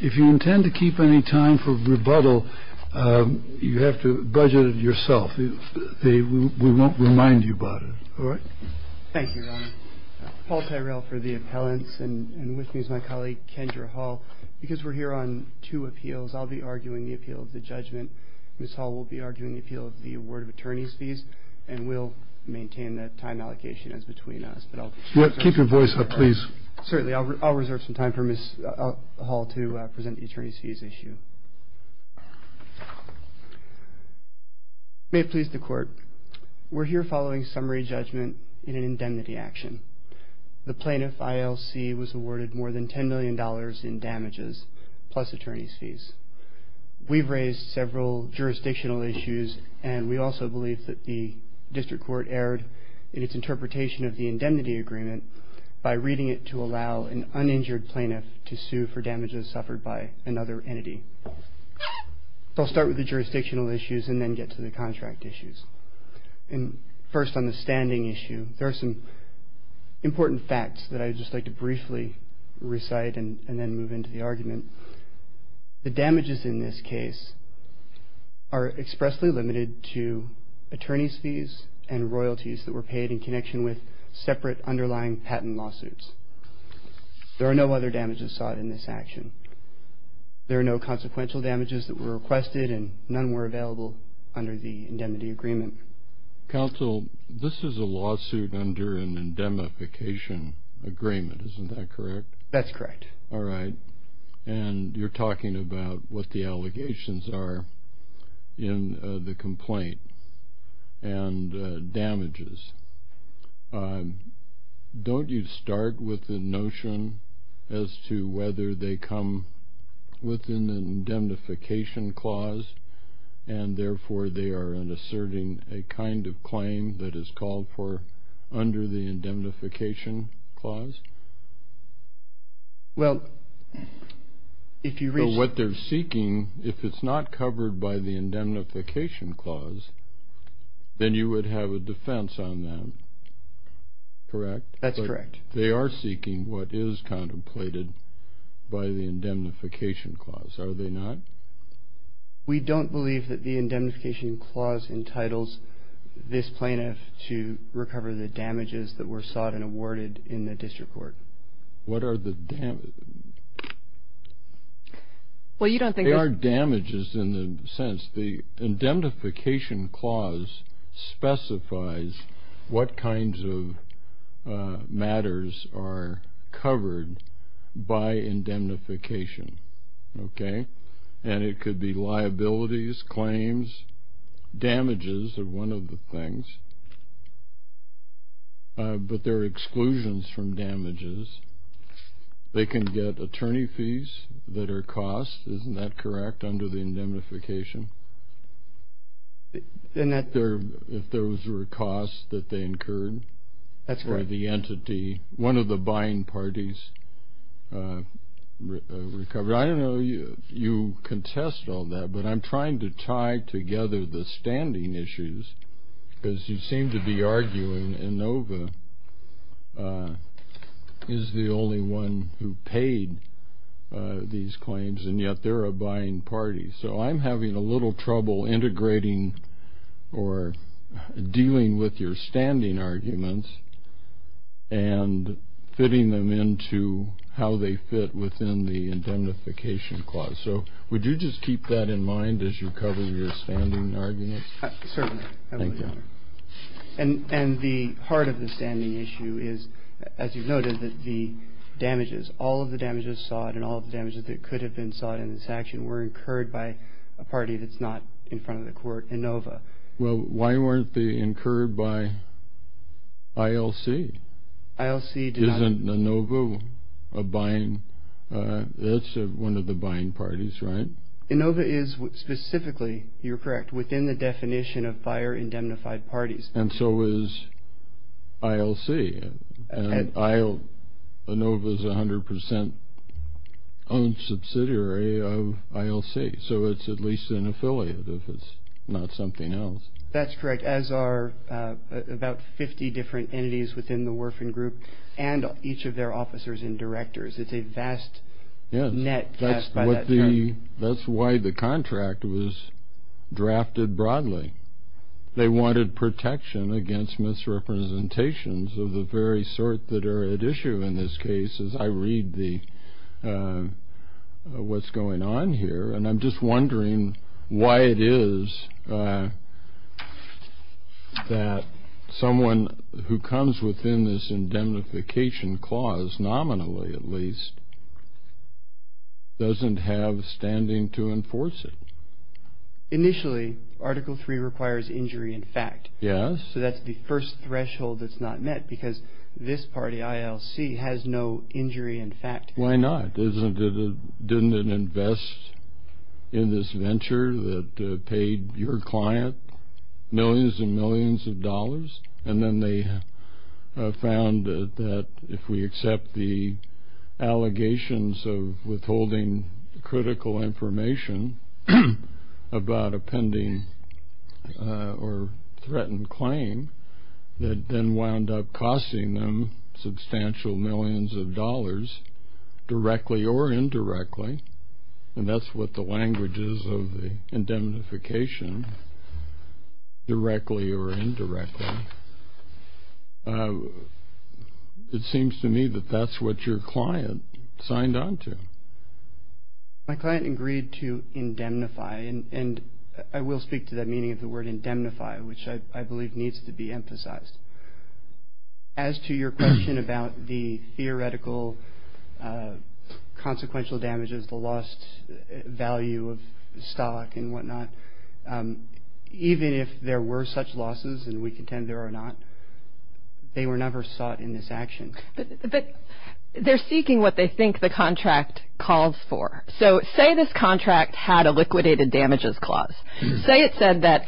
If you intend to keep any time for rebuttal, you have to budget it yourself. We won't remind you about it. Thank you, Your Honor. Paul Tyrell for the appellants, and with me is my colleague, Kendra Hall. Because we're here on two appeals, I'll be arguing the appeal of the judgment. Ms. Hall will be arguing the appeal of the award of attorney's fees, and we'll maintain that time allocation as between us. Keep your voice up, please. Certainly, I'll reserve some time for Ms. Hall to present the attorney's fees issue. May it please the Court. We're here following summary judgment in an indemnity action. The plaintiff, ILC, was awarded more than $10 million in damages, plus attorney's fees. We've raised several jurisdictional issues, and we also believe that the district court erred in its interpretation of the indemnity agreement by reading it to allow an uninjured plaintiff to sue for damages suffered by another entity. I'll start with the jurisdictional issues and then get to the contract issues. First, on the standing issue, there are some important facts that I would just like to briefly recite and then move into the argument. The damages in this case are expressly limited to attorney's fees and royalties that were paid in connection with separate underlying patent lawsuits. There are no other damages sought in this action. There are no consequential damages that were requested, and none were available under the indemnity agreement. Counsel, this is a lawsuit under an indemnification agreement, isn't that correct? That's correct. All right. And you're talking about what the allegations are in the complaint and damages. Don't you start with the notion as to whether they come within the indemnification clause and therefore they are asserting a kind of claim that is called for under the indemnification clause? Well, if you read... So what they're seeking, if it's not covered by the indemnification clause, then you would have a defense on them, correct? That's correct. They are seeking what is contemplated by the indemnification clause, are they not? We don't believe that the indemnification clause entitles this plaintiff to recover the damages that were sought and awarded in the district court. What are the damages? Well, you don't think there's... There are damages in the sense the indemnification clause specifies what kinds of matters are covered by indemnification. Okay? And it could be liabilities, claims. Damages are one of the things. But there are exclusions from damages. They can get attorney fees that are cost, isn't that correct, under the indemnification? If those were costs that they incurred. That's right. One of the buying parties recovered. I don't know if you contest all that, but I'm trying to tie together the standing issues because you seem to be arguing Inova is the only one who paid these claims, and yet they're a buying party. So I'm having a little trouble integrating or dealing with your standing arguments and fitting them into how they fit within the indemnification clause. So would you just keep that in mind as you cover your standing arguments? Certainly. Thank you. And the heart of the standing issue is, as you've noted, that the damages, all of the damages sought and all of the damages that could have been sought in this action were incurred by a party that's not in front of the court, Inova. Well, why weren't they incurred by ILC? Isn't Inova one of the buying parties, right? Inova is specifically, you're correct, within the definition of buyer-indemnified parties. And so is ILC. And Inova is 100% owned subsidiary of ILC. So it's at least an affiliate if it's not something else. That's correct, as are about 50 different entities within the Worfen Group and each of their officers and directors. It's a vast net by that term. That's why the contract was drafted broadly. They wanted protection against misrepresentations of the very sort that are at issue in this case, as I read what's going on here. And I'm just wondering why it is that someone who comes within this indemnification clause, nominally at least, doesn't have standing to enforce it. Initially, Article III requires injury in fact. Yes. So that's the first threshold that's not met because this party, ILC, has no injury in fact. Why not? Didn't it invest in this venture that paid your client millions and millions of dollars? And then they found that if we accept the allegations of withholding critical information about a pending or threatened claim that then wound up costing them substantial millions of dollars directly or indirectly, and that's what the language is of the indemnification, directly or indirectly, it seems to me that that's what your client signed on to. My client agreed to indemnify, and I will speak to that meaning of the word indemnify, As to your question about the theoretical consequential damages, the lost value of stock and whatnot, even if there were such losses, and we contend there are not, they were never sought in this action. But they're seeking what they think the contract calls for. So say this contract had a liquidated damages clause. Say it said that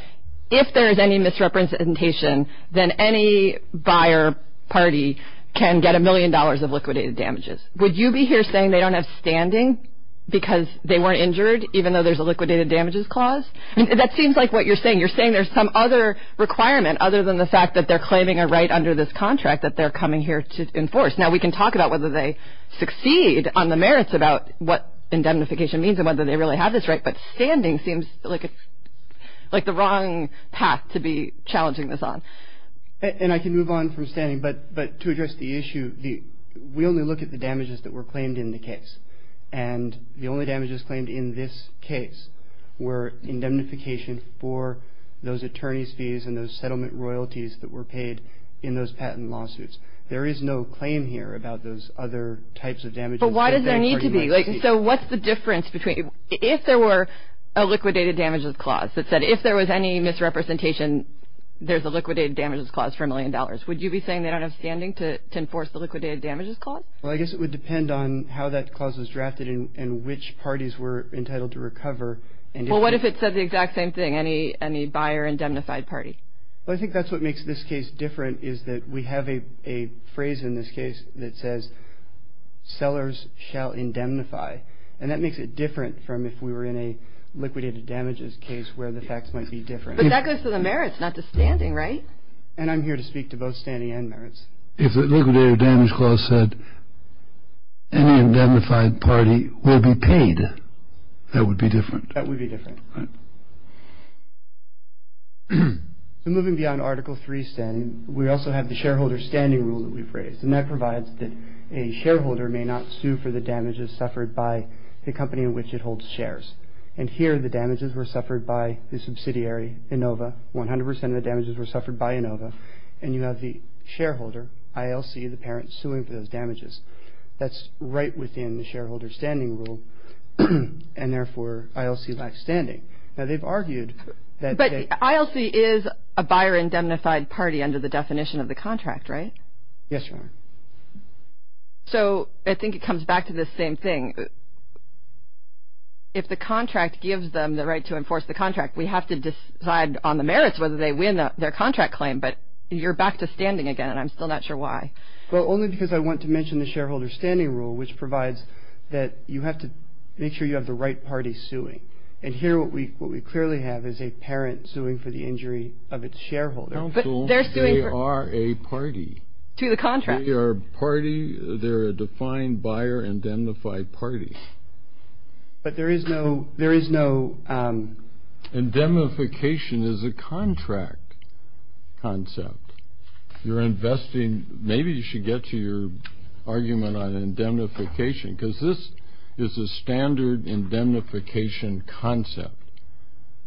if there is any misrepresentation, then any buyer party can get a million dollars of liquidated damages. Would you be here saying they don't have standing because they weren't injured, even though there's a liquidated damages clause? That seems like what you're saying. You're saying there's some other requirement other than the fact that they're claiming a right under this contract that they're coming here to enforce. Now, we can talk about whether they succeed on the merits about what indemnification means and whether they really have this right, but standing seems like the wrong path to be challenging this on. And I can move on from standing, but to address the issue, we only look at the damages that were claimed in the case. And the only damages claimed in this case were indemnification for those attorney's fees and those settlement royalties that were paid in those patent lawsuits. There is no claim here about those other types of damages. But why does there need to be? So what's the difference between if there were a liquidated damages clause that said if there was any misrepresentation, there's a liquidated damages clause for a million dollars, would you be saying they don't have standing to enforce the liquidated damages clause? Well, I guess it would depend on how that clause was drafted and which parties were entitled to recover. Well, what if it said the exact same thing, any buyer indemnified party? Well, I think that's what makes this case different is that we have a phrase in this case that says, sellers shall indemnify. And that makes it different from if we were in a liquidated damages case where the facts might be different. But that goes to the merits, not the standing, right? And I'm here to speak to both standing and merits. If the liquidated damages clause said any indemnified party will be paid, that would be different. That would be different. Right. So moving beyond Article III standing, we also have the shareholder standing rule that we've raised. And that provides that a shareholder may not sue for the damages suffered by the company in which it holds shares. And here the damages were suffered by the subsidiary, Inova. One hundred percent of the damages were suffered by Inova. And you have the shareholder, ILC, the parent suing for those damages. That's right within the shareholder standing rule. And therefore, ILC lacks standing. Now, they've argued that they... But ILC is a buyer indemnified party under the definition of the contract, right? Yes, Your Honor. So I think it comes back to the same thing. If the contract gives them the right to enforce the contract, we have to decide on the merits whether they win their contract claim. But you're back to standing again, and I'm still not sure why. Well, only because I want to mention the shareholder standing rule, which provides that you have to make sure you have the right party suing. And here what we clearly have is a parent suing for the injury of its shareholder. They are a party. To the contract. They are a party. They're a defined buyer indemnified party. But there is no... Indemnification is a contract concept. You're investing... Maybe you should get to your argument on indemnification, because this is a standard indemnification concept.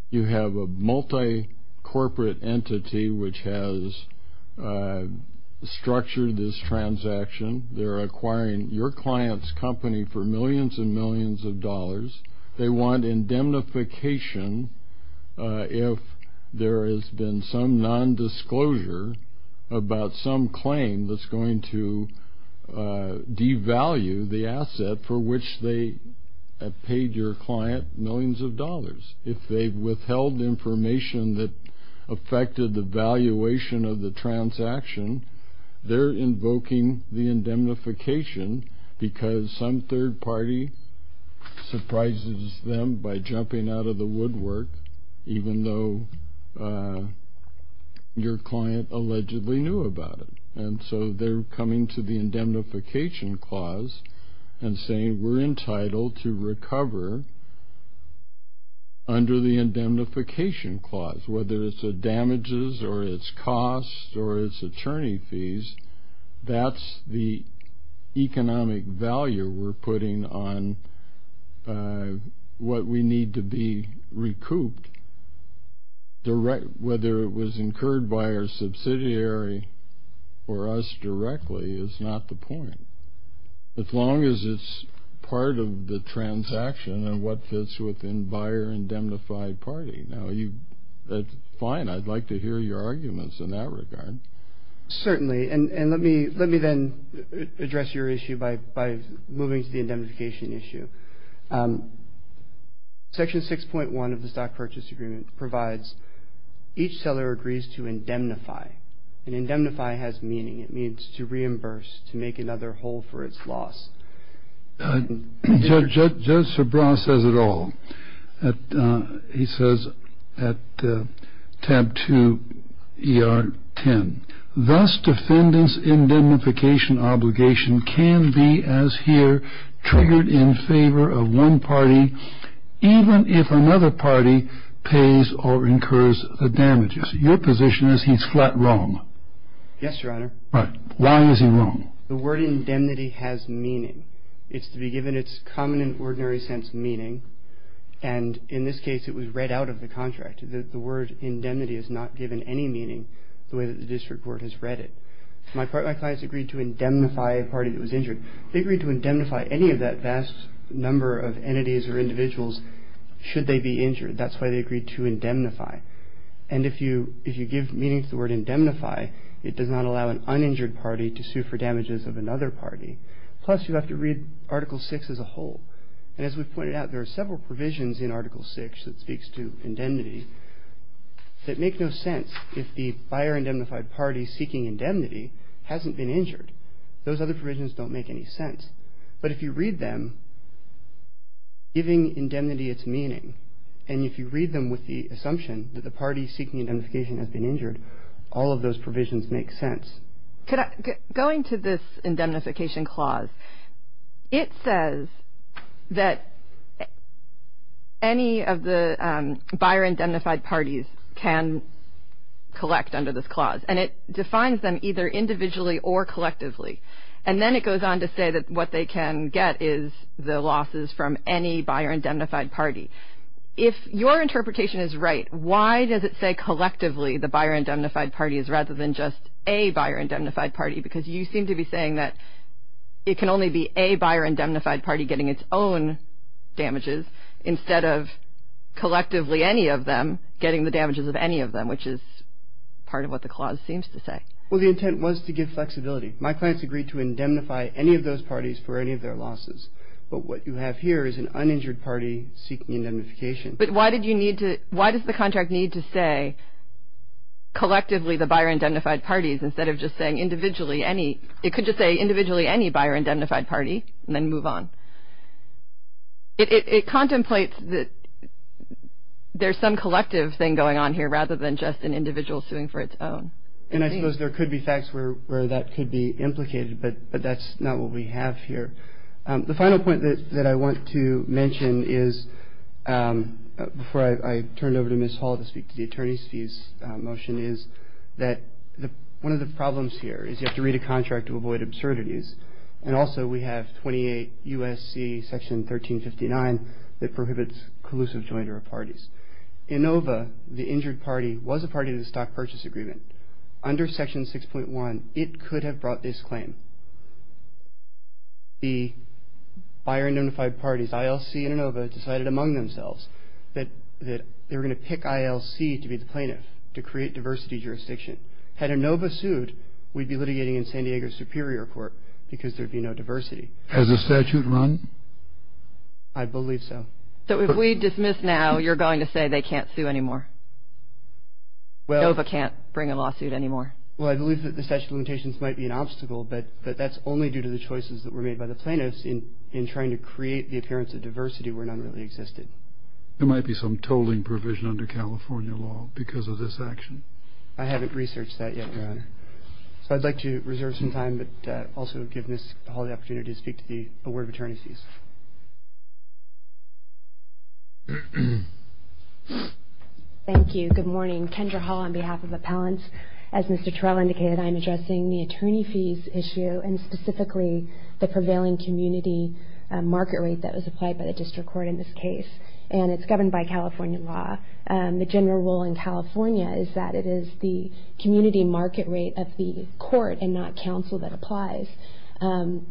You have a multi-corporate entity which has structured this transaction. They're acquiring your client's company for millions and millions of dollars. They want indemnification if there has been some nondisclosure about some claim that's going to devalue the asset for which they have paid your client millions of dollars. If they've withheld information that affected the valuation of the transaction, they're invoking the indemnification because some third party surprises them by jumping out of the woodwork, even though your client allegedly knew about it. And so they're coming to the indemnification clause and saying, we're entitled to recover under the indemnification clause, whether it's damages or it's costs or it's attorney fees. That's the economic value we're putting on what we need to be recouped, whether it was incurred by our subsidiary or us directly is not the point, as long as it's part of the transaction and what fits within buyer indemnified party. Now, that's fine. I'd like to hear your arguments in that regard. Certainly, and let me then address your issue by moving to the indemnification issue. Section 6.1 of the Stock Purchase Agreement provides each seller agrees to indemnify. And indemnify has meaning. It means to reimburse, to make another hole for its loss. Judge Sobran says it all. He says at tab 2 ER 10, thus defendant's indemnification obligation can be, as here, triggered in favor of one party, even if another party pays or incurs the damages. Your position is he's flat wrong. Yes, Your Honor. Right. Why is he wrong? The word indemnity has meaning. It's to be given its common and ordinary sense meaning. And in this case, it was read out of the contract. The word indemnity is not given any meaning the way that the district court has read it. My clients agreed to indemnify a party that was injured. They agreed to indemnify any of that vast number of entities or individuals should they be injured. That's why they agreed to indemnify. And if you give meaning to the word indemnify, it does not allow an uninjured party to sue for damages of another party. Plus, you have to read Article 6 as a whole. And as we've pointed out, there are several provisions in Article 6 that speaks to indemnity that make no sense if the buyer indemnified party seeking indemnity hasn't been injured. Those other provisions don't make any sense. But if you read them, giving indemnity its meaning, and if you read them with the assumption that the party seeking indemnification has been injured, all of those provisions make sense. Going to this indemnification clause, it says that any of the buyer indemnified parties can collect under this clause. And it defines them either individually or collectively. And then it goes on to say that what they can get is the losses from any buyer indemnified party. If your interpretation is right, why does it say collectively the buyer indemnified party is rather than just a buyer indemnified party? Because you seem to be saying that it can only be a buyer indemnified party getting its own damages instead of collectively any of them getting the damages of any of them, which is part of what the clause seems to say. Well, the intent was to give flexibility. My clients agreed to indemnify any of those parties for any of their losses. But what you have here is an uninjured party seeking indemnification. But why did you need to, why does the contract need to say collectively the buyer indemnified parties instead of just saying individually any, it could just say individually any buyer indemnified party and then move on. It contemplates that there's some collective thing going on here rather than just an individual suing for its own. And I suppose there could be facts where that could be implicated, but that's not what we have here. The final point that I want to mention is, before I turn it over to Ms. Hall to speak to the attorney's fees motion, is that one of the problems here is you have to read a contract to avoid absurdities. And also we have 28 U.S.C. Section 1359 that prohibits collusive joint or parties. Inova, the injured party, was a party to the stock purchase agreement. Under Section 6.1, it could have brought this claim. The buyer indemnified parties, ILC and Inova, decided among themselves that they were going to pick ILC to be the plaintiff, to create diversity jurisdiction. Had Inova sued, we'd be litigating in San Diego Superior Court because there'd be no diversity. Has the statute run? I believe so. So if we dismiss now, you're going to say they can't sue anymore? Inova can't bring a lawsuit anymore? Well, I believe that the statute of limitations might be an obstacle, but that's only due to the choices that were made by the plaintiffs in trying to create the appearance of diversity where none really existed. There might be some tolling provision under California law because of this action. I haven't researched that yet, Your Honor. So I'd like to reserve some time but also give Ms. Hall the opportunity to speak to the award of attorney's fees. Thank you. Good morning. I'm Kendra Hall on behalf of appellants. As Mr. Terrell indicated, I'm addressing the attorney fees issue and specifically the prevailing community market rate that was applied by the district court in this case. And it's governed by California law. The general rule in California is that it is the community market rate of the court and not counsel that applies. And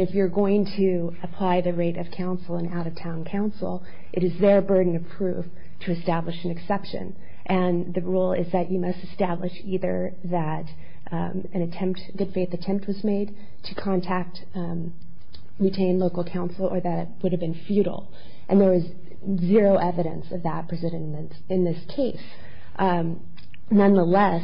if you're going to apply the rate of counsel and out-of-town counsel, it is their burden of proof to establish an exception. And the rule is that you must establish either that an attempt, a good faith attempt was made to contact, retain local counsel or that it would have been futile. And there is zero evidence of that precedent in this case. Nonetheless,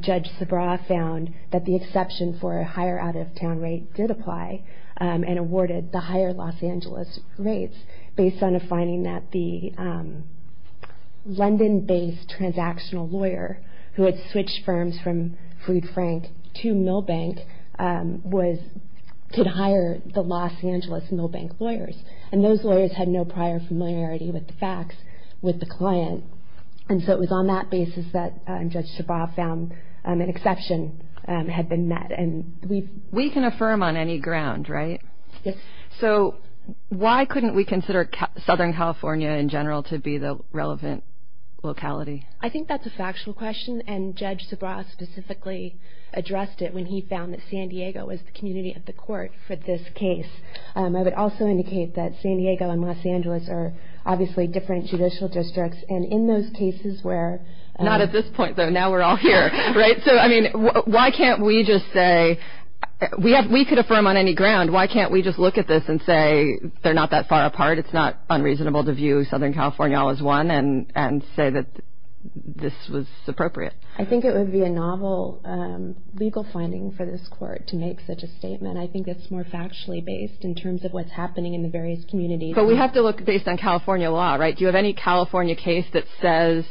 Judge Sabra found that the exception for a higher out-of-town rate did apply and awarded the higher Los Angeles rates based on a finding that the London-based transactional lawyer who had switched firms from Food Frank to Milbank could hire the Los Angeles Milbank lawyers. And those lawyers had no prior familiarity with the facts with the client. And so it was on that basis that Judge Sabra found an exception had been met. We can affirm on any ground, right? Yes. So why couldn't we consider Southern California in general to be the relevant locality? I think that's a factual question. And Judge Sabra specifically addressed it when he found that San Diego was the community of the court for this case. I would also indicate that San Diego and Los Angeles are obviously different judicial districts. And in those cases where- Not at this point, though. Now we're all here, right? So, I mean, why can't we just say-we could affirm on any ground. Why can't we just look at this and say they're not that far apart, it's not unreasonable to view Southern California all as one and say that this was appropriate? I think it would be a novel legal finding for this court to make such a statement. I think it's more factually based in terms of what's happening in the various communities. But we have to look based on California law, right? Do you have any California case that says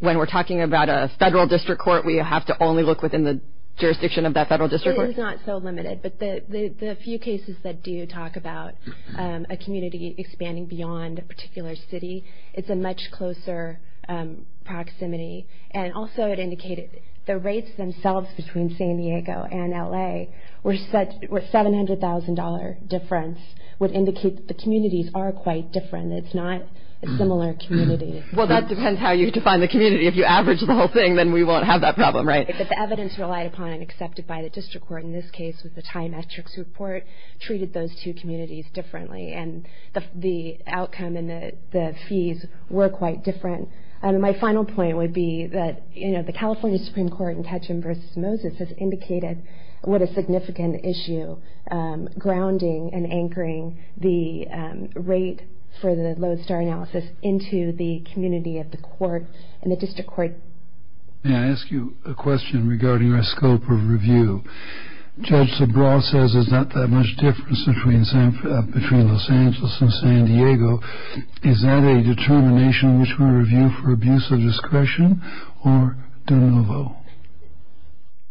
when we're talking about a federal district court, we have to only look within the jurisdiction of that federal district court? It is not so limited. But the few cases that do talk about a community expanding beyond a particular city, it's a much closer proximity. And also it indicated the rates themselves between San Diego and L.A. were $700,000 difference would indicate that the communities are quite different. It's not a similar community. Well, that depends how you define the community. If you average the whole thing, then we won't have that problem, right? But the evidence relied upon and accepted by the district court, in this case with the TIE metrics report, treated those two communities differently. And the outcome and the fees were quite different. And my final point would be that, you know, the California Supreme Court in Ketchum v. Moses has indicated what a significant issue, grounding and anchoring the rate for the Lodestar analysis into the community of the court and the district court. May I ask you a question regarding our scope of review? Judge Sobral says there's not that much difference between Los Angeles and San Diego. Is that a determination which we review for abuse of discretion or de novo?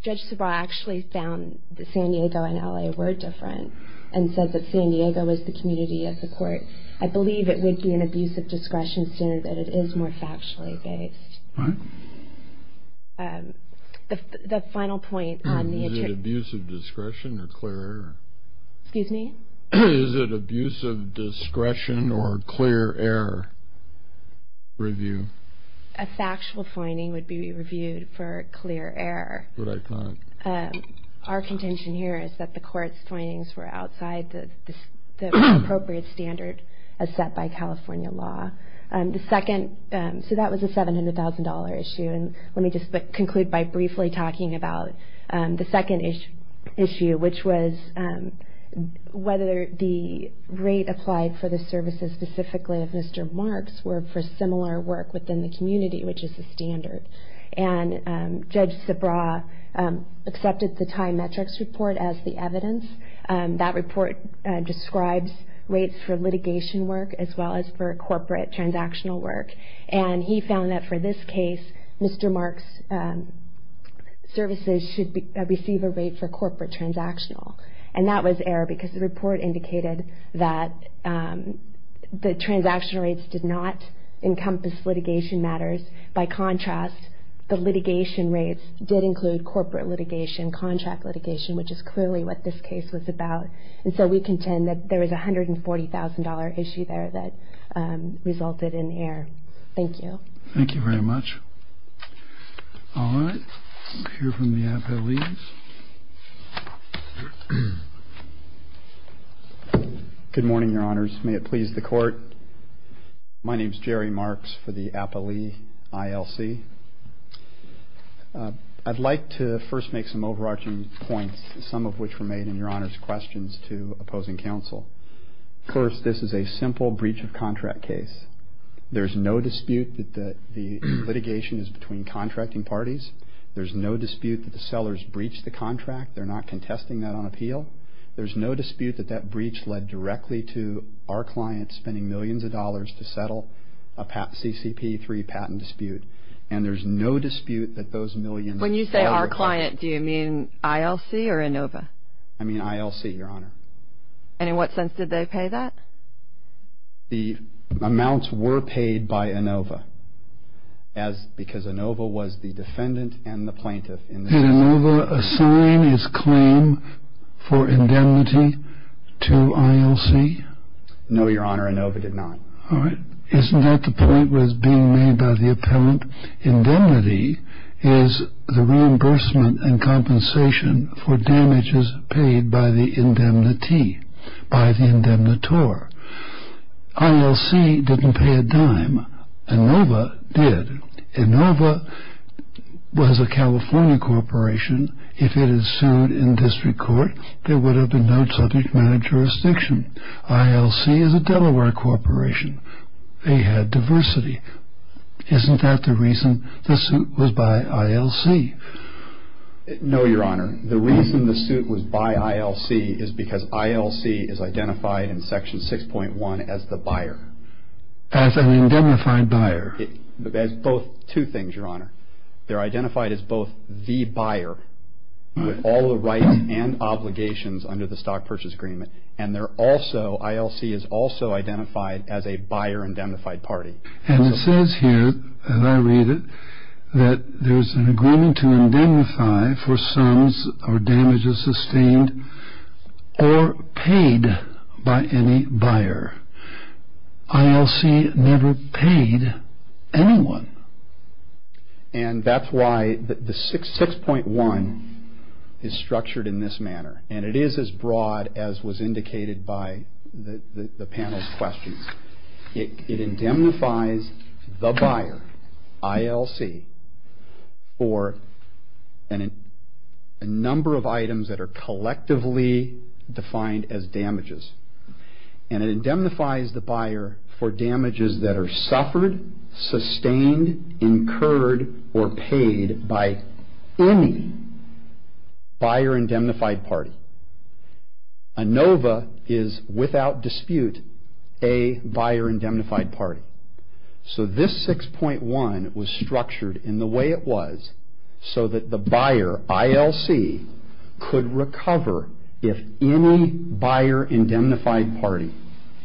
Judge Sobral actually found that San Diego and L.A. were different and said that San Diego was the community of the court. I believe it would be an abuse of discretion standard, but it is more factually based. All right. The final point on the— Is it abuse of discretion or clear error? Excuse me? Is it abuse of discretion or clear error review? A factual finding would be reviewed for clear error. Our contention here is that the court's findings were outside the appropriate standard as set by California law. The second—so that was a $700,000 issue. And let me just conclude by briefly talking about the second issue, which was whether the rate applied for the services specifically of Mr. Marks were for similar work within the community, which is the standard. And Judge Sobral accepted the TIE metrics report as the evidence. That report describes rates for litigation work as well as for corporate transactional work. And he found that for this case, Mr. Marks' services should receive a rate for corporate transactional. And that was error because the report indicated that the transaction rates did not encompass litigation matters. By contrast, the litigation rates did include corporate litigation, contract litigation, which is clearly what this case was about. And so we contend that there is a $140,000 issue there that resulted in error. Thank you. Thank you very much. All right. We'll hear from the appellees. Good morning, Your Honors. May it please the Court. My name is Jerry Marks for the Appellee ILC. I'd like to first make some overarching points, some of which were made in Your Honors' questions to opposing counsel. First, this is a simple breach of contract case. There is no dispute that the litigation is between contracting parties. There's no dispute that the sellers breached the contract. They're not contesting that on appeal. There's no dispute that that breach led directly to our client spending millions of dollars to settle a CCP3 patent dispute. And there's no dispute that those millions of dollars were paid. When you say our client, do you mean ILC or Inova? I mean ILC, Your Honor. And in what sense did they pay that? The amounts were paid by Inova because Inova was the defendant and the plaintiff in this case. Did Inova assign his claim for indemnity to ILC? No, Your Honor. All right. Isn't that the point that's being made by the appellant? Indemnity is the reimbursement and compensation for damages paid by the indemnitee, by the indemnitor. ILC didn't pay a dime. Inova did. Inova was a California corporation. If it had sued in district court, there would have been no subject matter jurisdiction. ILC is a Delaware corporation. They had diversity. Isn't that the reason the suit was by ILC? No, Your Honor. The reason the suit was by ILC is because ILC is identified in Section 6.1 as the buyer. As an indemnified buyer. As both two things, Your Honor. They're identified as both the buyer with all the rights and obligations under the Stock Purchase Agreement and they're also, ILC is also identified as a buyer indemnified party. And it says here, as I read it, that there's an agreement to indemnify for sums or damages sustained or paid by any buyer. ILC never paid anyone. And that's why the 6.1 is structured in this manner. And it is as broad as was indicated by the panel's questions. It indemnifies the buyer, ILC, for a number of items that are collectively defined as damages. And it indemnifies the buyer for damages that are suffered, sustained, incurred, or paid by any buyer indemnified party. ANOVA is, without dispute, a buyer indemnified party. So this 6.1 was structured in the way it was so that the buyer, ILC, could recover if any buyer indemnified party,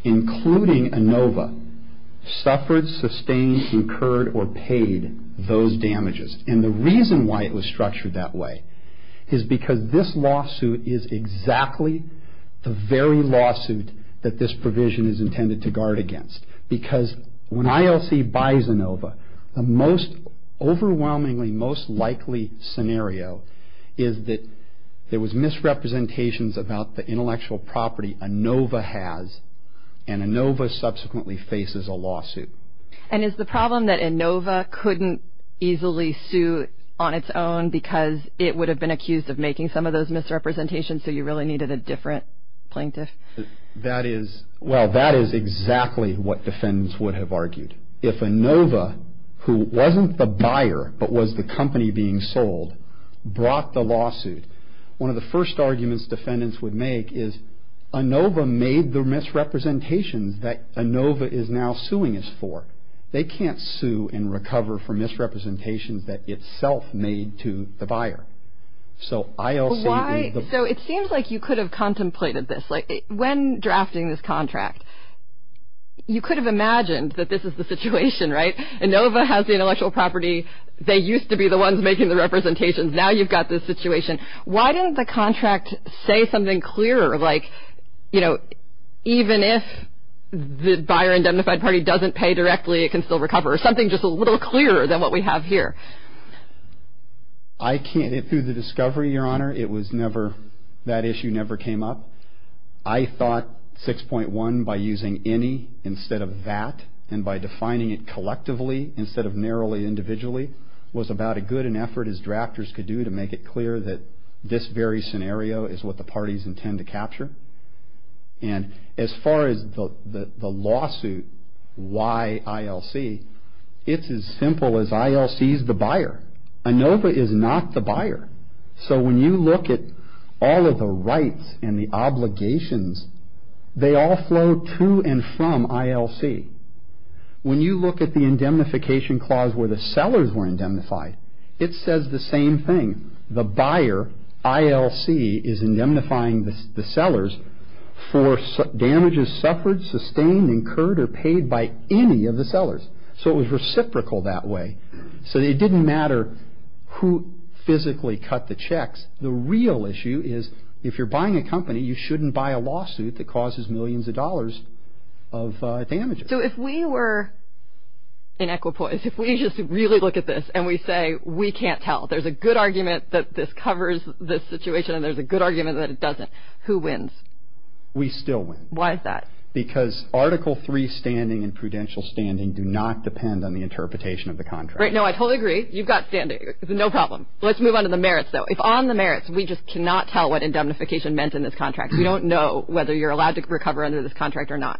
including ANOVA, suffered, sustained, incurred, or paid those damages. And the reason why it was structured that way is because this lawsuit is exactly the very lawsuit that this provision is intended to guard against. Because when ILC buys ANOVA, the most overwhelmingly most likely scenario is that there was misrepresentations about the intellectual property ANOVA has, and ANOVA subsequently faces a lawsuit. And is the problem that ANOVA couldn't easily sue on its own because it would have been accused of making some of those misrepresentations, so you really needed a different plaintiff? That is, well, that is exactly what defendants would have argued. If ANOVA, who wasn't the buyer but was the company being sold, brought the lawsuit, one of the first arguments defendants would make is ANOVA made the misrepresentations that ANOVA is now suing us for. They can't sue and recover for misrepresentations that itself made to the buyer. So it seems like you could have contemplated this. When drafting this contract, you could have imagined that this is the situation, right? ANOVA has the intellectual property. They used to be the ones making the representations. Now you've got this situation. Why didn't the contract say something clearer, like, you know, even if the buyer-indemnified party doesn't pay directly, it can still recover, or something just a little clearer than what we have here? I can't. Through the discovery, Your Honor, it was never, that issue never came up. I thought 6.1, by using any instead of that, and by defining it collectively instead of narrowly individually, was about as good an effort as drafters could do to make it clear that this very scenario is what the parties intend to capture. And as far as the lawsuit, why ILC, it's as simple as ILC is the buyer. ANOVA is not the buyer. So when you look at all of the rights and the obligations, they all flow to and from ILC. When you look at the indemnification clause where the sellers were indemnified, it says the same thing. The buyer, ILC, is indemnifying the sellers for damages suffered, sustained, incurred, or paid by any of the sellers. So it was reciprocal that way. So it didn't matter who physically cut the checks. The real issue is if you're buying a company, you shouldn't buy a lawsuit that causes millions of dollars of damages. So if we were in equipoise, if we just really look at this and we say we can't tell, there's a good argument that this covers this situation and there's a good argument that it doesn't, who wins? We still win. Why is that? Because Article III standing and prudential standing do not depend on the interpretation of the contract. Right, no, I totally agree. You've got standing. No problem. Let's move on to the merits, though. If on the merits we just cannot tell what indemnification meant in this contract, we don't know whether you're allowed to recover under this contract or not.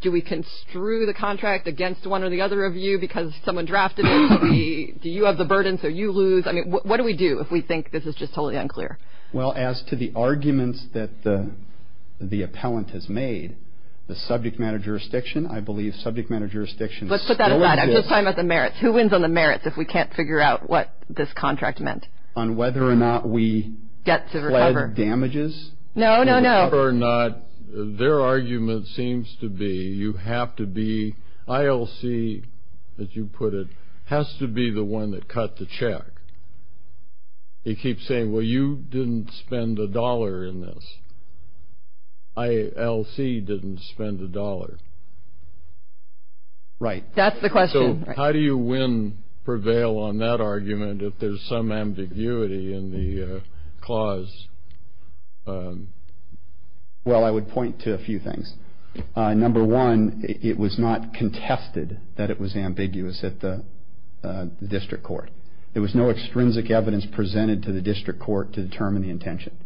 Do we construe the contract against one or the other of you because someone drafted it? Do you have the burden so you lose? I mean, what do we do if we think this is just totally unclear? Well, as to the arguments that the appellant has made, the subject matter jurisdiction, I believe subject matter jurisdiction still is. Let's put that aside. I'm just talking about the merits. Who wins on the merits if we can't figure out what this contract meant? On whether or not we fled damages? No, no, no. Whether or not their argument seems to be you have to be ILC, as you put it, has to be the one that cut the check. They keep saying, well, you didn't spend a dollar in this. ILC didn't spend a dollar. Right. That's the question. So how do you win, prevail on that argument if there's some ambiguity in the clause? Well, I would point to a few things. Number one, it was not contested that it was ambiguous at the district court. There was no extrinsic evidence presented to the district court to determine the intention.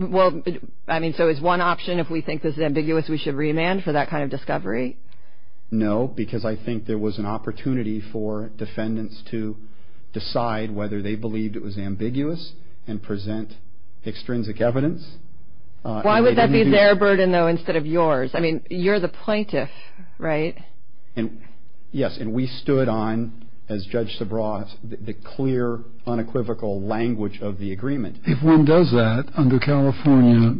Well, I mean, so is one option, if we think this is ambiguous, we should remand for that kind of discovery? No, because I think there was an opportunity for defendants to decide whether they believed it was ambiguous and present extrinsic evidence. Why would that be their burden, though, instead of yours? I mean, you're the plaintiff, right? Yes, and we stood on, as Judge Sobrat, the clear, unequivocal language of the agreement. If one does that under California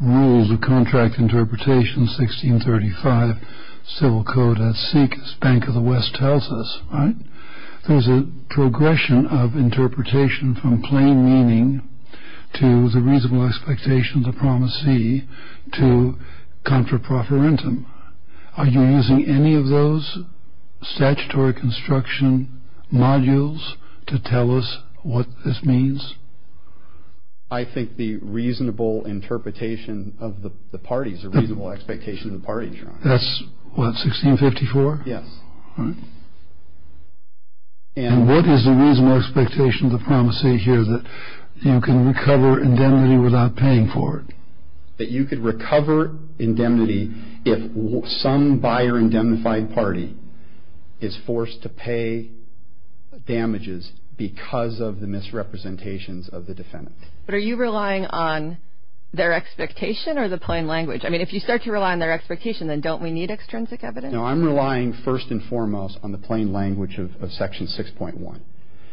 rules of contract interpretation, 1635 civil code, as Bank of the West tells us, right, there's a progression of interpretation from plain meaning to the reasonable expectation of the promisee to contra proferentum. Are you using any of those statutory construction modules to tell us what this means? I think the reasonable interpretation of the parties, the reasonable expectation of the parties. That's what, 1654? Yes. And what is the reasonable expectation of the promisee here, that you can recover indemnity without paying for it? That you could recover indemnity if some buyer-indemnified party is forced to pay damages because of the misrepresentations of the defendant. But are you relying on their expectation or the plain language? I mean, if you start to rely on their expectation, then don't we need extrinsic evidence? No, I'm relying, first and foremost, on the plain language of Section 6.1,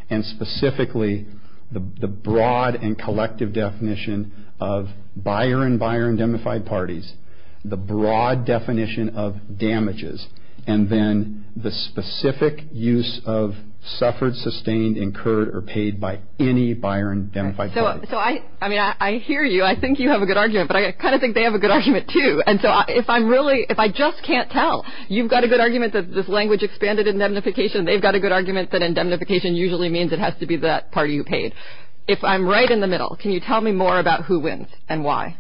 and specifically the broad and collective definition of buyer and buyer-indemnified parties, the broad definition of damages, and then the specific use of suffered, sustained, incurred, or paid by any buyer-indemnified parties. So, I mean, I hear you. I think you have a good argument, but I kind of think they have a good argument, too. And so if I'm really, if I just can't tell, you've got a good argument that this language expanded indemnification, and they've got a good argument that indemnification usually means it has to be that party who paid. If I'm right in the middle, can you tell me more about who wins and why?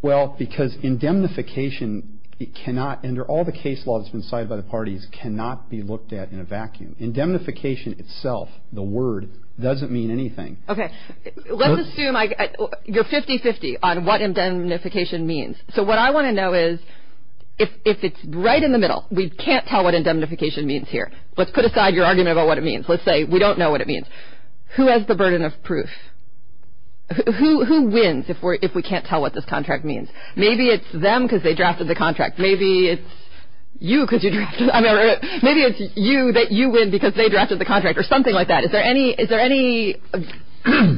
Well, because indemnification cannot, under all the case law that's been cited by the parties, cannot be looked at in a vacuum. Indemnification itself, the word, doesn't mean anything. Okay, let's assume you're 50-50 on what indemnification means. So what I want to know is, if it's right in the middle, we can't tell what indemnification means here. Let's put aside your argument about what it means. Let's say we don't know what it means. Who has the burden of proof? Who wins if we can't tell what this contract means? Maybe it's them because they drafted the contract. Maybe it's you because you drafted it. Maybe it's you that you win because they drafted the contract, or something like that. Is there any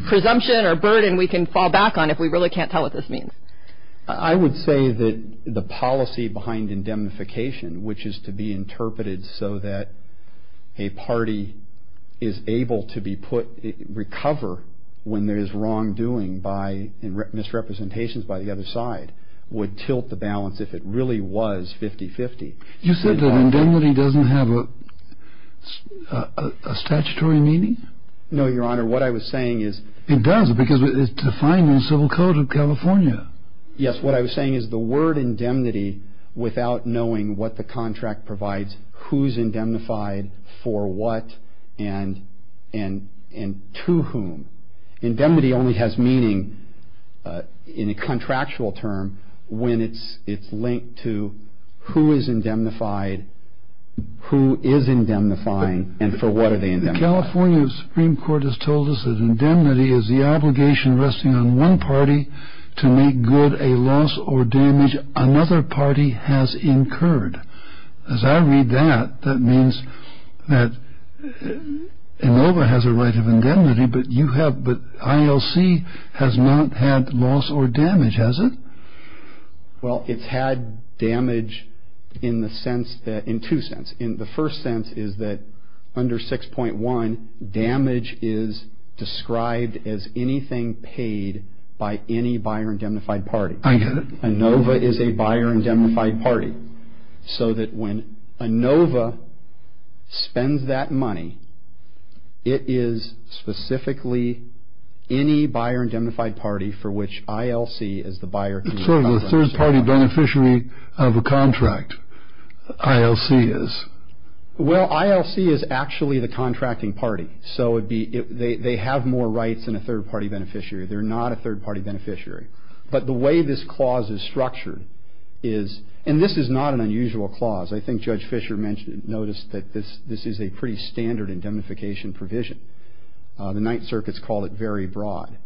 presumption or burden we can fall back on if we really can't tell what this means? I would say that the policy behind indemnification, which is to be interpreted so that a party is able to be put, recover when there is wrongdoing by misrepresentations by the other side, would tilt the balance if it really was 50-50. You said that indemnity doesn't have a statutory meaning? No, Your Honor, what I was saying is... It does because it's defined in the Civil Code of California. Yes, what I was saying is the word indemnity without knowing what the contract provides, who is indemnified, for what, and to whom. Indemnity only has meaning in a contractual term when it's linked to who is indemnified, who is indemnifying, and for what are they indemnifying. California Supreme Court has told us that indemnity is the obligation resting on one party to make good a loss or damage another party has incurred. As I read that, that means that ANOVA has a right of indemnity, but ILC has not had loss or damage, has it? Well, it's had damage in two senses. The first sense is that under 6.1, damage is described as anything paid by any buyer-indemnified party. I get it. ANOVA is a buyer-indemnified party so that when ANOVA spends that money, it is specifically any buyer-indemnified party for which ILC is the buyer. It's sort of a third-party beneficiary of a contract, ILC is. Well, ILC is actually the contracting party, so they have more rights than a third-party beneficiary. They're not a third-party beneficiary. But the way this clause is structured is, and this is not an unusual clause. I think Judge Fisher noticed that this is a pretty standard indemnification provision. The Ninth Circuit's called it very broad.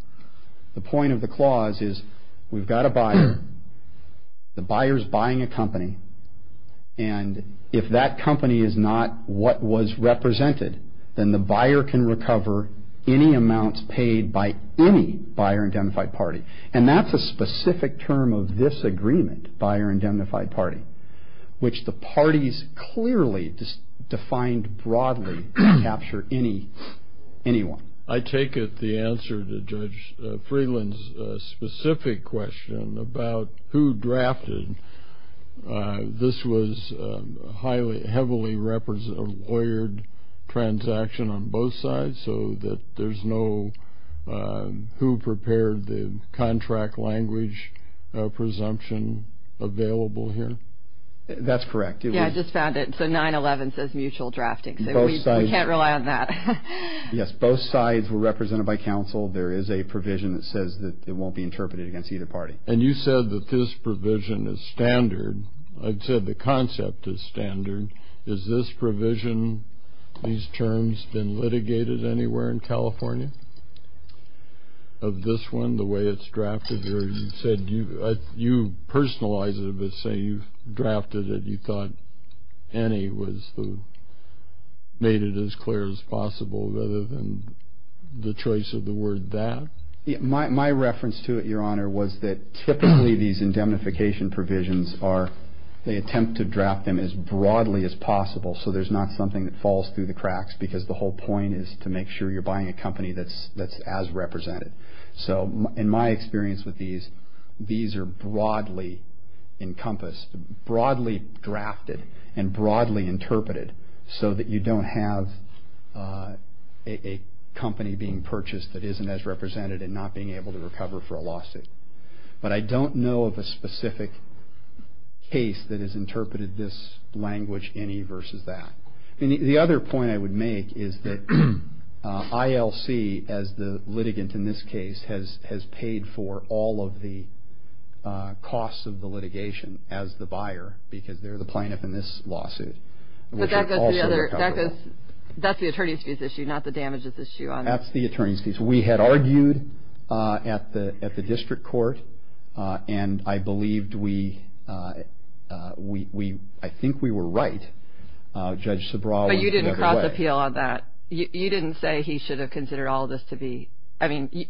The point of the clause is we've got a buyer, the buyer's buying a company, and if that company is not what was represented, then the buyer can recover any amounts paid by any buyer-indemnified party. And that's a specific term of this agreement, buyer-indemnified party, which the parties clearly defined broadly to capture anyone. I take it the answer to Judge Freeland's specific question about who drafted, this was a heavily lawyered transaction on both sides, so that there's no who prepared the contract language presumption available here? That's correct. Yeah, I just found it. So 9-11 says mutual drafting, so we can't rely on that. Yes, both sides were represented by counsel. There is a provision that says that it won't be interpreted against either party. And you said that this provision is standard. I said the concept is standard. Is this provision, these terms, been litigated anywhere in California of this one, the way it's drafted here? You said you personalized it, but say you've drafted it. You thought any made it as clear as possible rather than the choice of the word that? My reference to it, Your Honor, was that typically these indemnification provisions are, they attempt to draft them as broadly as possible so there's not something that falls through the cracks because the whole point is to make sure you're buying a company that's as represented. So in my experience with these, these are broadly encompassed, broadly drafted, and broadly interpreted so that you don't have a company being purchased that isn't as represented and not being able to recover for a lawsuit. But I don't know of a specific case that has interpreted this language any versus that. The other point I would make is that ILC, as the litigant in this case, has paid for all of the costs of the litigation as the buyer because they're the plaintiff in this lawsuit. But that's the attorney's fees issue, not the damages issue. That's the attorney's fees. We had argued at the district court and I believed we, I think we were right. Judge Subraw was the other way. But you didn't cross appeal on that. You didn't say he should have considered all this to be, I mean,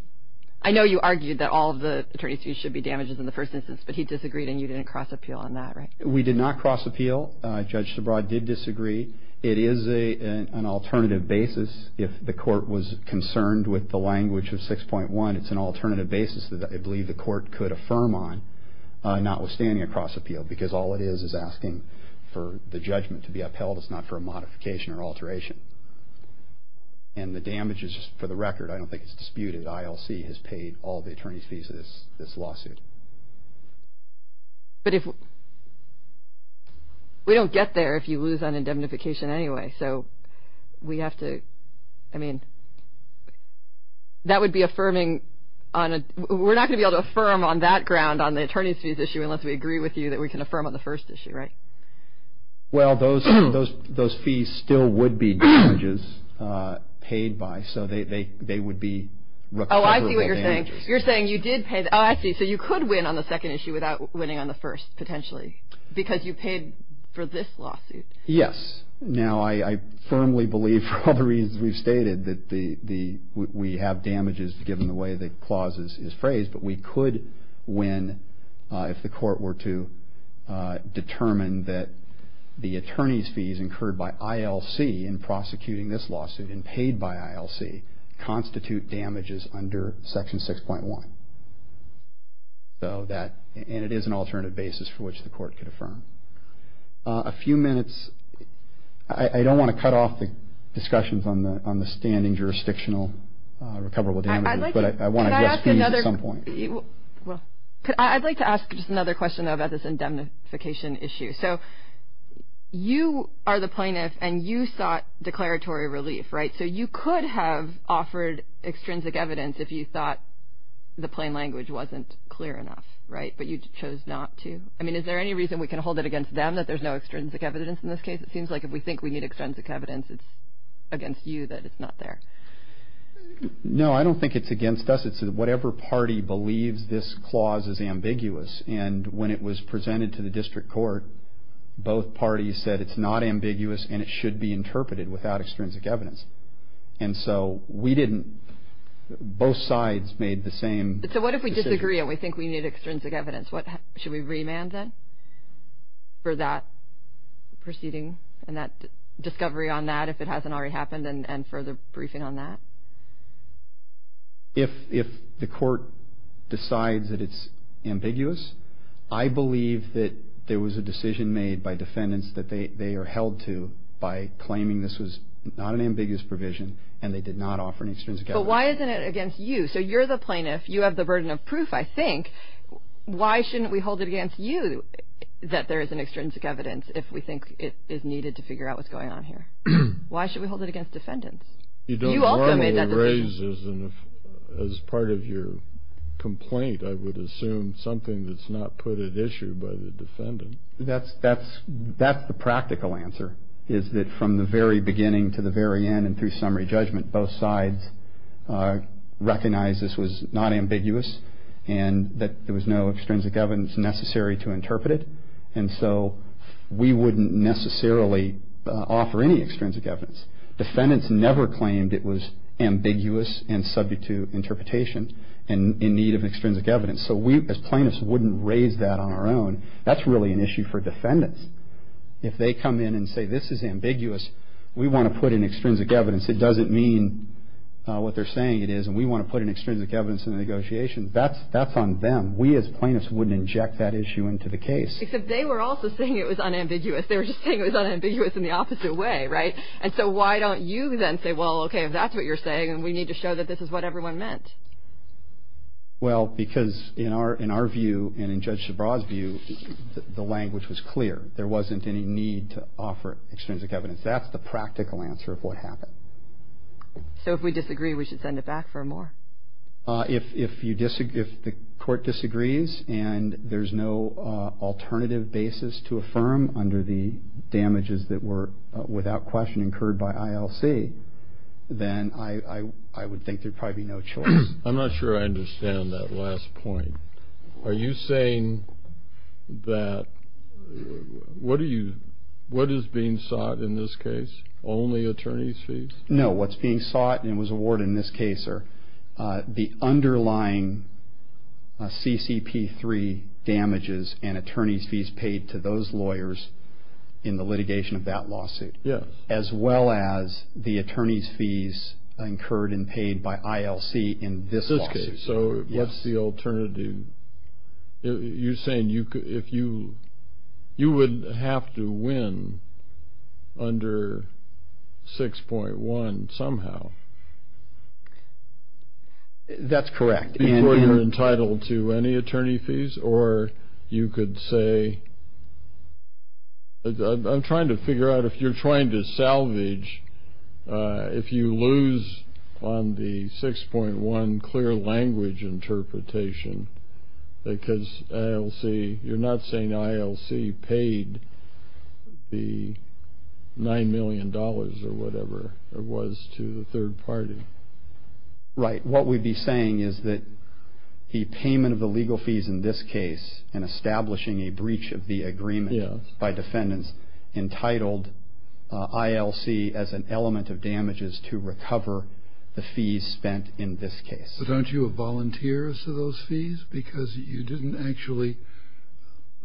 I know you argued that all of the attorney's fees should be damages in the first instance, but he disagreed and you didn't cross appeal on that, right? We did not cross appeal. Judge Subraw did disagree. It is an alternative basis if the court was concerned with the language of 6.1. It's an alternative basis that I believe the court could affirm on notwithstanding a cross appeal because all it is is asking for the judgment to be upheld. It's not for a modification or alteration. And the damages, for the record, I don't think it's disputed, ILC has paid all the attorney's fees of this lawsuit. But if, we don't get there if you lose on indemnification anyway. So we have to, I mean, that would be affirming on a, we're not going to be able to affirm on that ground on the attorney's fees issue unless we agree with you that we can affirm on the first issue, right? Well, those fees still would be damages paid by, so they would be recoverable damages. Oh, I see what you're saying. You're saying you did pay, oh, I see. So you could win on the second issue without winning on the first potentially because you paid for this lawsuit. Yes. Now, I firmly believe, for all the reasons we've stated, that we have damages given the way the clause is phrased, but we could win if the court were to determine that the attorney's fees incurred by ILC in prosecuting this lawsuit and paid by ILC constitute damages under Section 6.1. So that, and it is an alternative basis for which the court could affirm. A few minutes, I don't want to cut off the discussions on the standing jurisdictional recoverable damages. But I want to address fees at some point. I'd like to ask just another question about this indemnification issue. So you are the plaintiff, and you sought declaratory relief, right? So you could have offered extrinsic evidence if you thought the plain language wasn't clear enough, right? But you chose not to? I mean, is there any reason we can hold it against them that there's no extrinsic evidence in this case? It seems like if we think we need extrinsic evidence, it's against you that it's not there. No, I don't think it's against us. It's whatever party believes this clause is ambiguous. And when it was presented to the district court, both parties said it's not ambiguous and it should be interpreted without extrinsic evidence. And so we didn't, both sides made the same decision. So what if we disagree and we think we need extrinsic evidence? Should we remand then for that proceeding and that discovery on that if it hasn't already happened and further briefing on that? If the court decides that it's ambiguous, I believe that there was a decision made by defendants that they are held to by claiming this was not an ambiguous provision and they did not offer any extrinsic evidence. But why isn't it against you? So you're the plaintiff. You have the burden of proof, I think. Why shouldn't we hold it against you that there isn't extrinsic evidence if we think it is needed to figure out what's going on here? Why should we hold it against defendants? You also made that decision. You don't normally raise, as part of your complaint, I would assume something that's not put at issue by the defendant. That's the practical answer, is that from the very beginning to the very end and through summary judgment, both sides recognized this was not ambiguous and that there was no extrinsic evidence necessary to interpret it. And so we wouldn't necessarily offer any extrinsic evidence. Defendants never claimed it was ambiguous and subject to interpretation and in need of extrinsic evidence. So we, as plaintiffs, wouldn't raise that on our own. That's really an issue for defendants. If they come in and say this is ambiguous, we want to put in extrinsic evidence. It doesn't mean what they're saying it is and we want to put in extrinsic evidence in the negotiation. That's on them. We, as plaintiffs, wouldn't inject that issue into the case. Except they were also saying it was unambiguous. They were just saying it was unambiguous in the opposite way, right? And so why don't you then say, well, okay, if that's what you're saying, then we need to show that this is what everyone meant. Well, because in our view and in Judge Shabra's view, the language was clear. There wasn't any need to offer extrinsic evidence. That's the practical answer of what happened. So if we disagree, we should send it back for more? If the court disagrees and there's no alternative basis to affirm under the damages that were without question incurred by ILC, then I would think there'd probably be no choice. I'm not sure I understand that last point. Are you saying that what is being sought in this case, only attorney's fees? No, what's being sought and was awarded in this case are the underlying CCP3 damages and attorney's fees paid to those lawyers in the litigation of that lawsuit, as well as the attorney's fees incurred and paid by ILC in this lawsuit. So what's the alternative? You're saying you would have to win under 6.1 somehow? That's correct. Before you're entitled to any attorney fees? Or you could say, I'm trying to figure out, if you're trying to salvage, if you lose on the 6.1 clear language interpretation, because you're not saying ILC paid the $9 million or whatever it was to the third party? Right. What we'd be saying is that the payment of the legal fees in this case and establishing a breach of the agreement by defendants entitled ILC as an element of damages to recover the fees spent in this case. But aren't you a volunteer to those fees? Because you didn't actually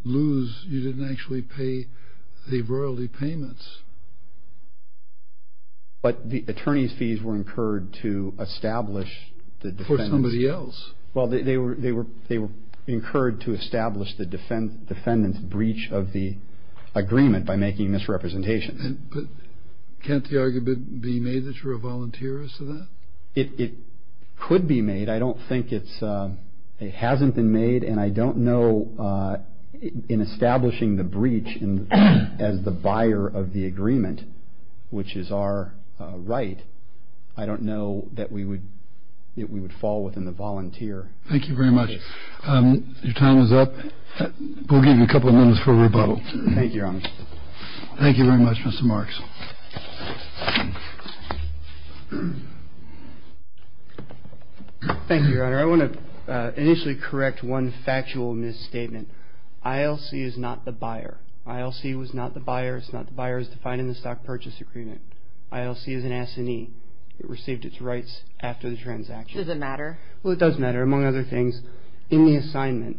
lose, you didn't actually pay the royalty payments. But the attorney's fees were incurred to establish the defendants. For somebody else. Well, they were incurred to establish the defendants' breach of the agreement by making misrepresentation. Can't the argument be made that you're a volunteer to that? It could be made. I don't think it hasn't been made. And I don't know, in establishing the breach as the buyer of the agreement, which is our right, I don't know that we would fall within the volunteer. Thank you very much. Your time is up. We'll give you a couple of minutes for rebuttal. Thank you, Your Honor. Thank you very much, Mr. Marks. Thank you, Your Honor. I want to initially correct one factual misstatement. ILC is not the buyer. ILC was not the buyer. It's not the buyer as defined in the Stock Purchase Agreement. ILC is an assignee. It received its rights after the transaction. Does it matter? Well, it does matter. Among other things, in the assignment,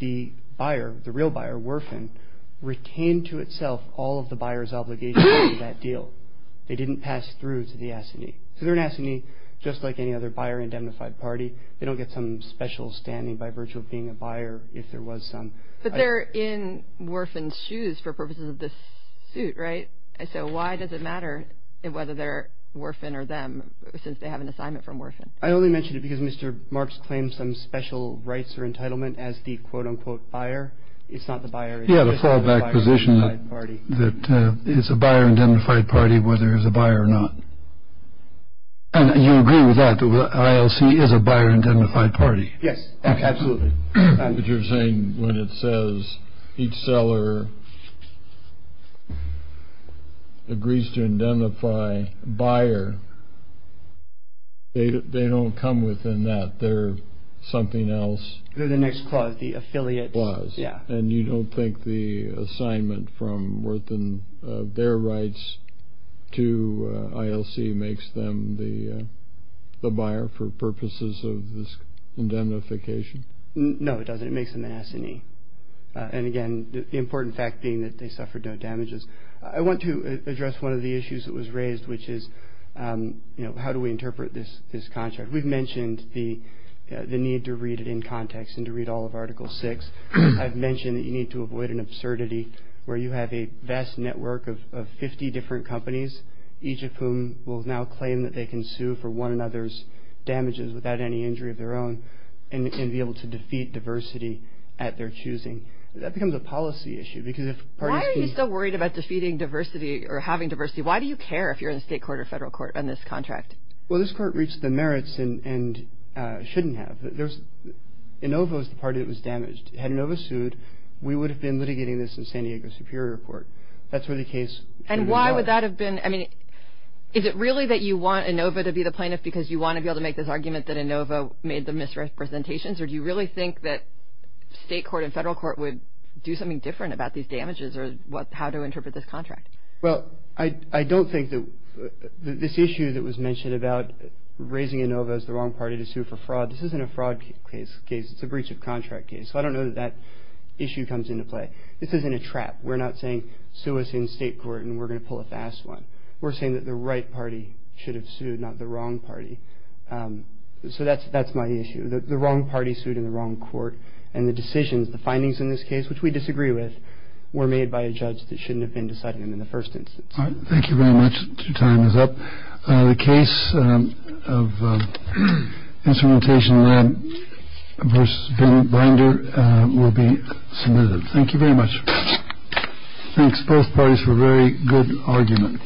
the buyer, the real buyer, Worfen, retained to itself all of the buyer's obligations to that deal. They didn't pass through to the assignee. So they're an assignee, just like any other buyer-indemnified party. They don't get some special standing by virtue of being a buyer if there was some. But they're in Worfen's shoes for purposes of this suit, right? So why does it matter whether they're Worfen or them since they have an assignment from Worfen? I only mention it because Mr. Marks claims some special rights or entitlement as the quote-unquote buyer. It's not the buyer. He had a fallback position that it's a buyer-indemnified party whether there's a buyer or not. And you agree with that, that ILC is a buyer-indemnified party? Yes, absolutely. But you're saying when it says each seller agrees to indemnify a buyer, they don't come within that. They're something else. They're the next clause, the affiliate clause. And you don't think the assignment from Worfen, their rights to ILC, makes them the buyer for purposes of this indemnification? No, it doesn't. It makes them an S&E. And, again, the important fact being that they suffered no damages. I want to address one of the issues that was raised, which is how do we interpret this contract. We've mentioned the need to read it in context and to read all of Article VI. I've mentioned that you need to avoid an absurdity where you have a vast network of 50 different companies, each of whom will now claim that they can sue for one another's damages without any injury of their own and be able to defeat diversity at their choosing. That becomes a policy issue. Why are you still worried about defeating diversity or having diversity? Why do you care if you're in the state court or federal court on this contract? Well, this court reached the merits and shouldn't have. Inova was the party that was damaged. Had Inova sued, we would have been litigating this in San Diego Superior Court. That's where the case would have gone. And why would that have been? I mean, is it really that you want Inova to be the plaintiff because you want to be able to make this argument that Inova made the misrepresentations, or do you really think that state court and federal court would do something different about these damages or how to interpret this contract? Well, I don't think that this issue that was mentioned about raising Inova as the wrong party to sue for fraud, this isn't a fraud case. It's a breach of contract case. So I don't know that that issue comes into play. This isn't a trap. We're not saying sue us in state court and we're going to pull a fast one. We're saying that the right party should have sued, not the wrong party. So that's my issue. The wrong party sued in the wrong court. And the decisions, the findings in this case, which we disagree with, were made by a judge that shouldn't have been deciding them in the first instance. All right. Thank you very much. Your time is up. The case of Instrumentation Lab versus Ben Binder will be submitted. Thank you very much. Thanks both parties for a very good argument.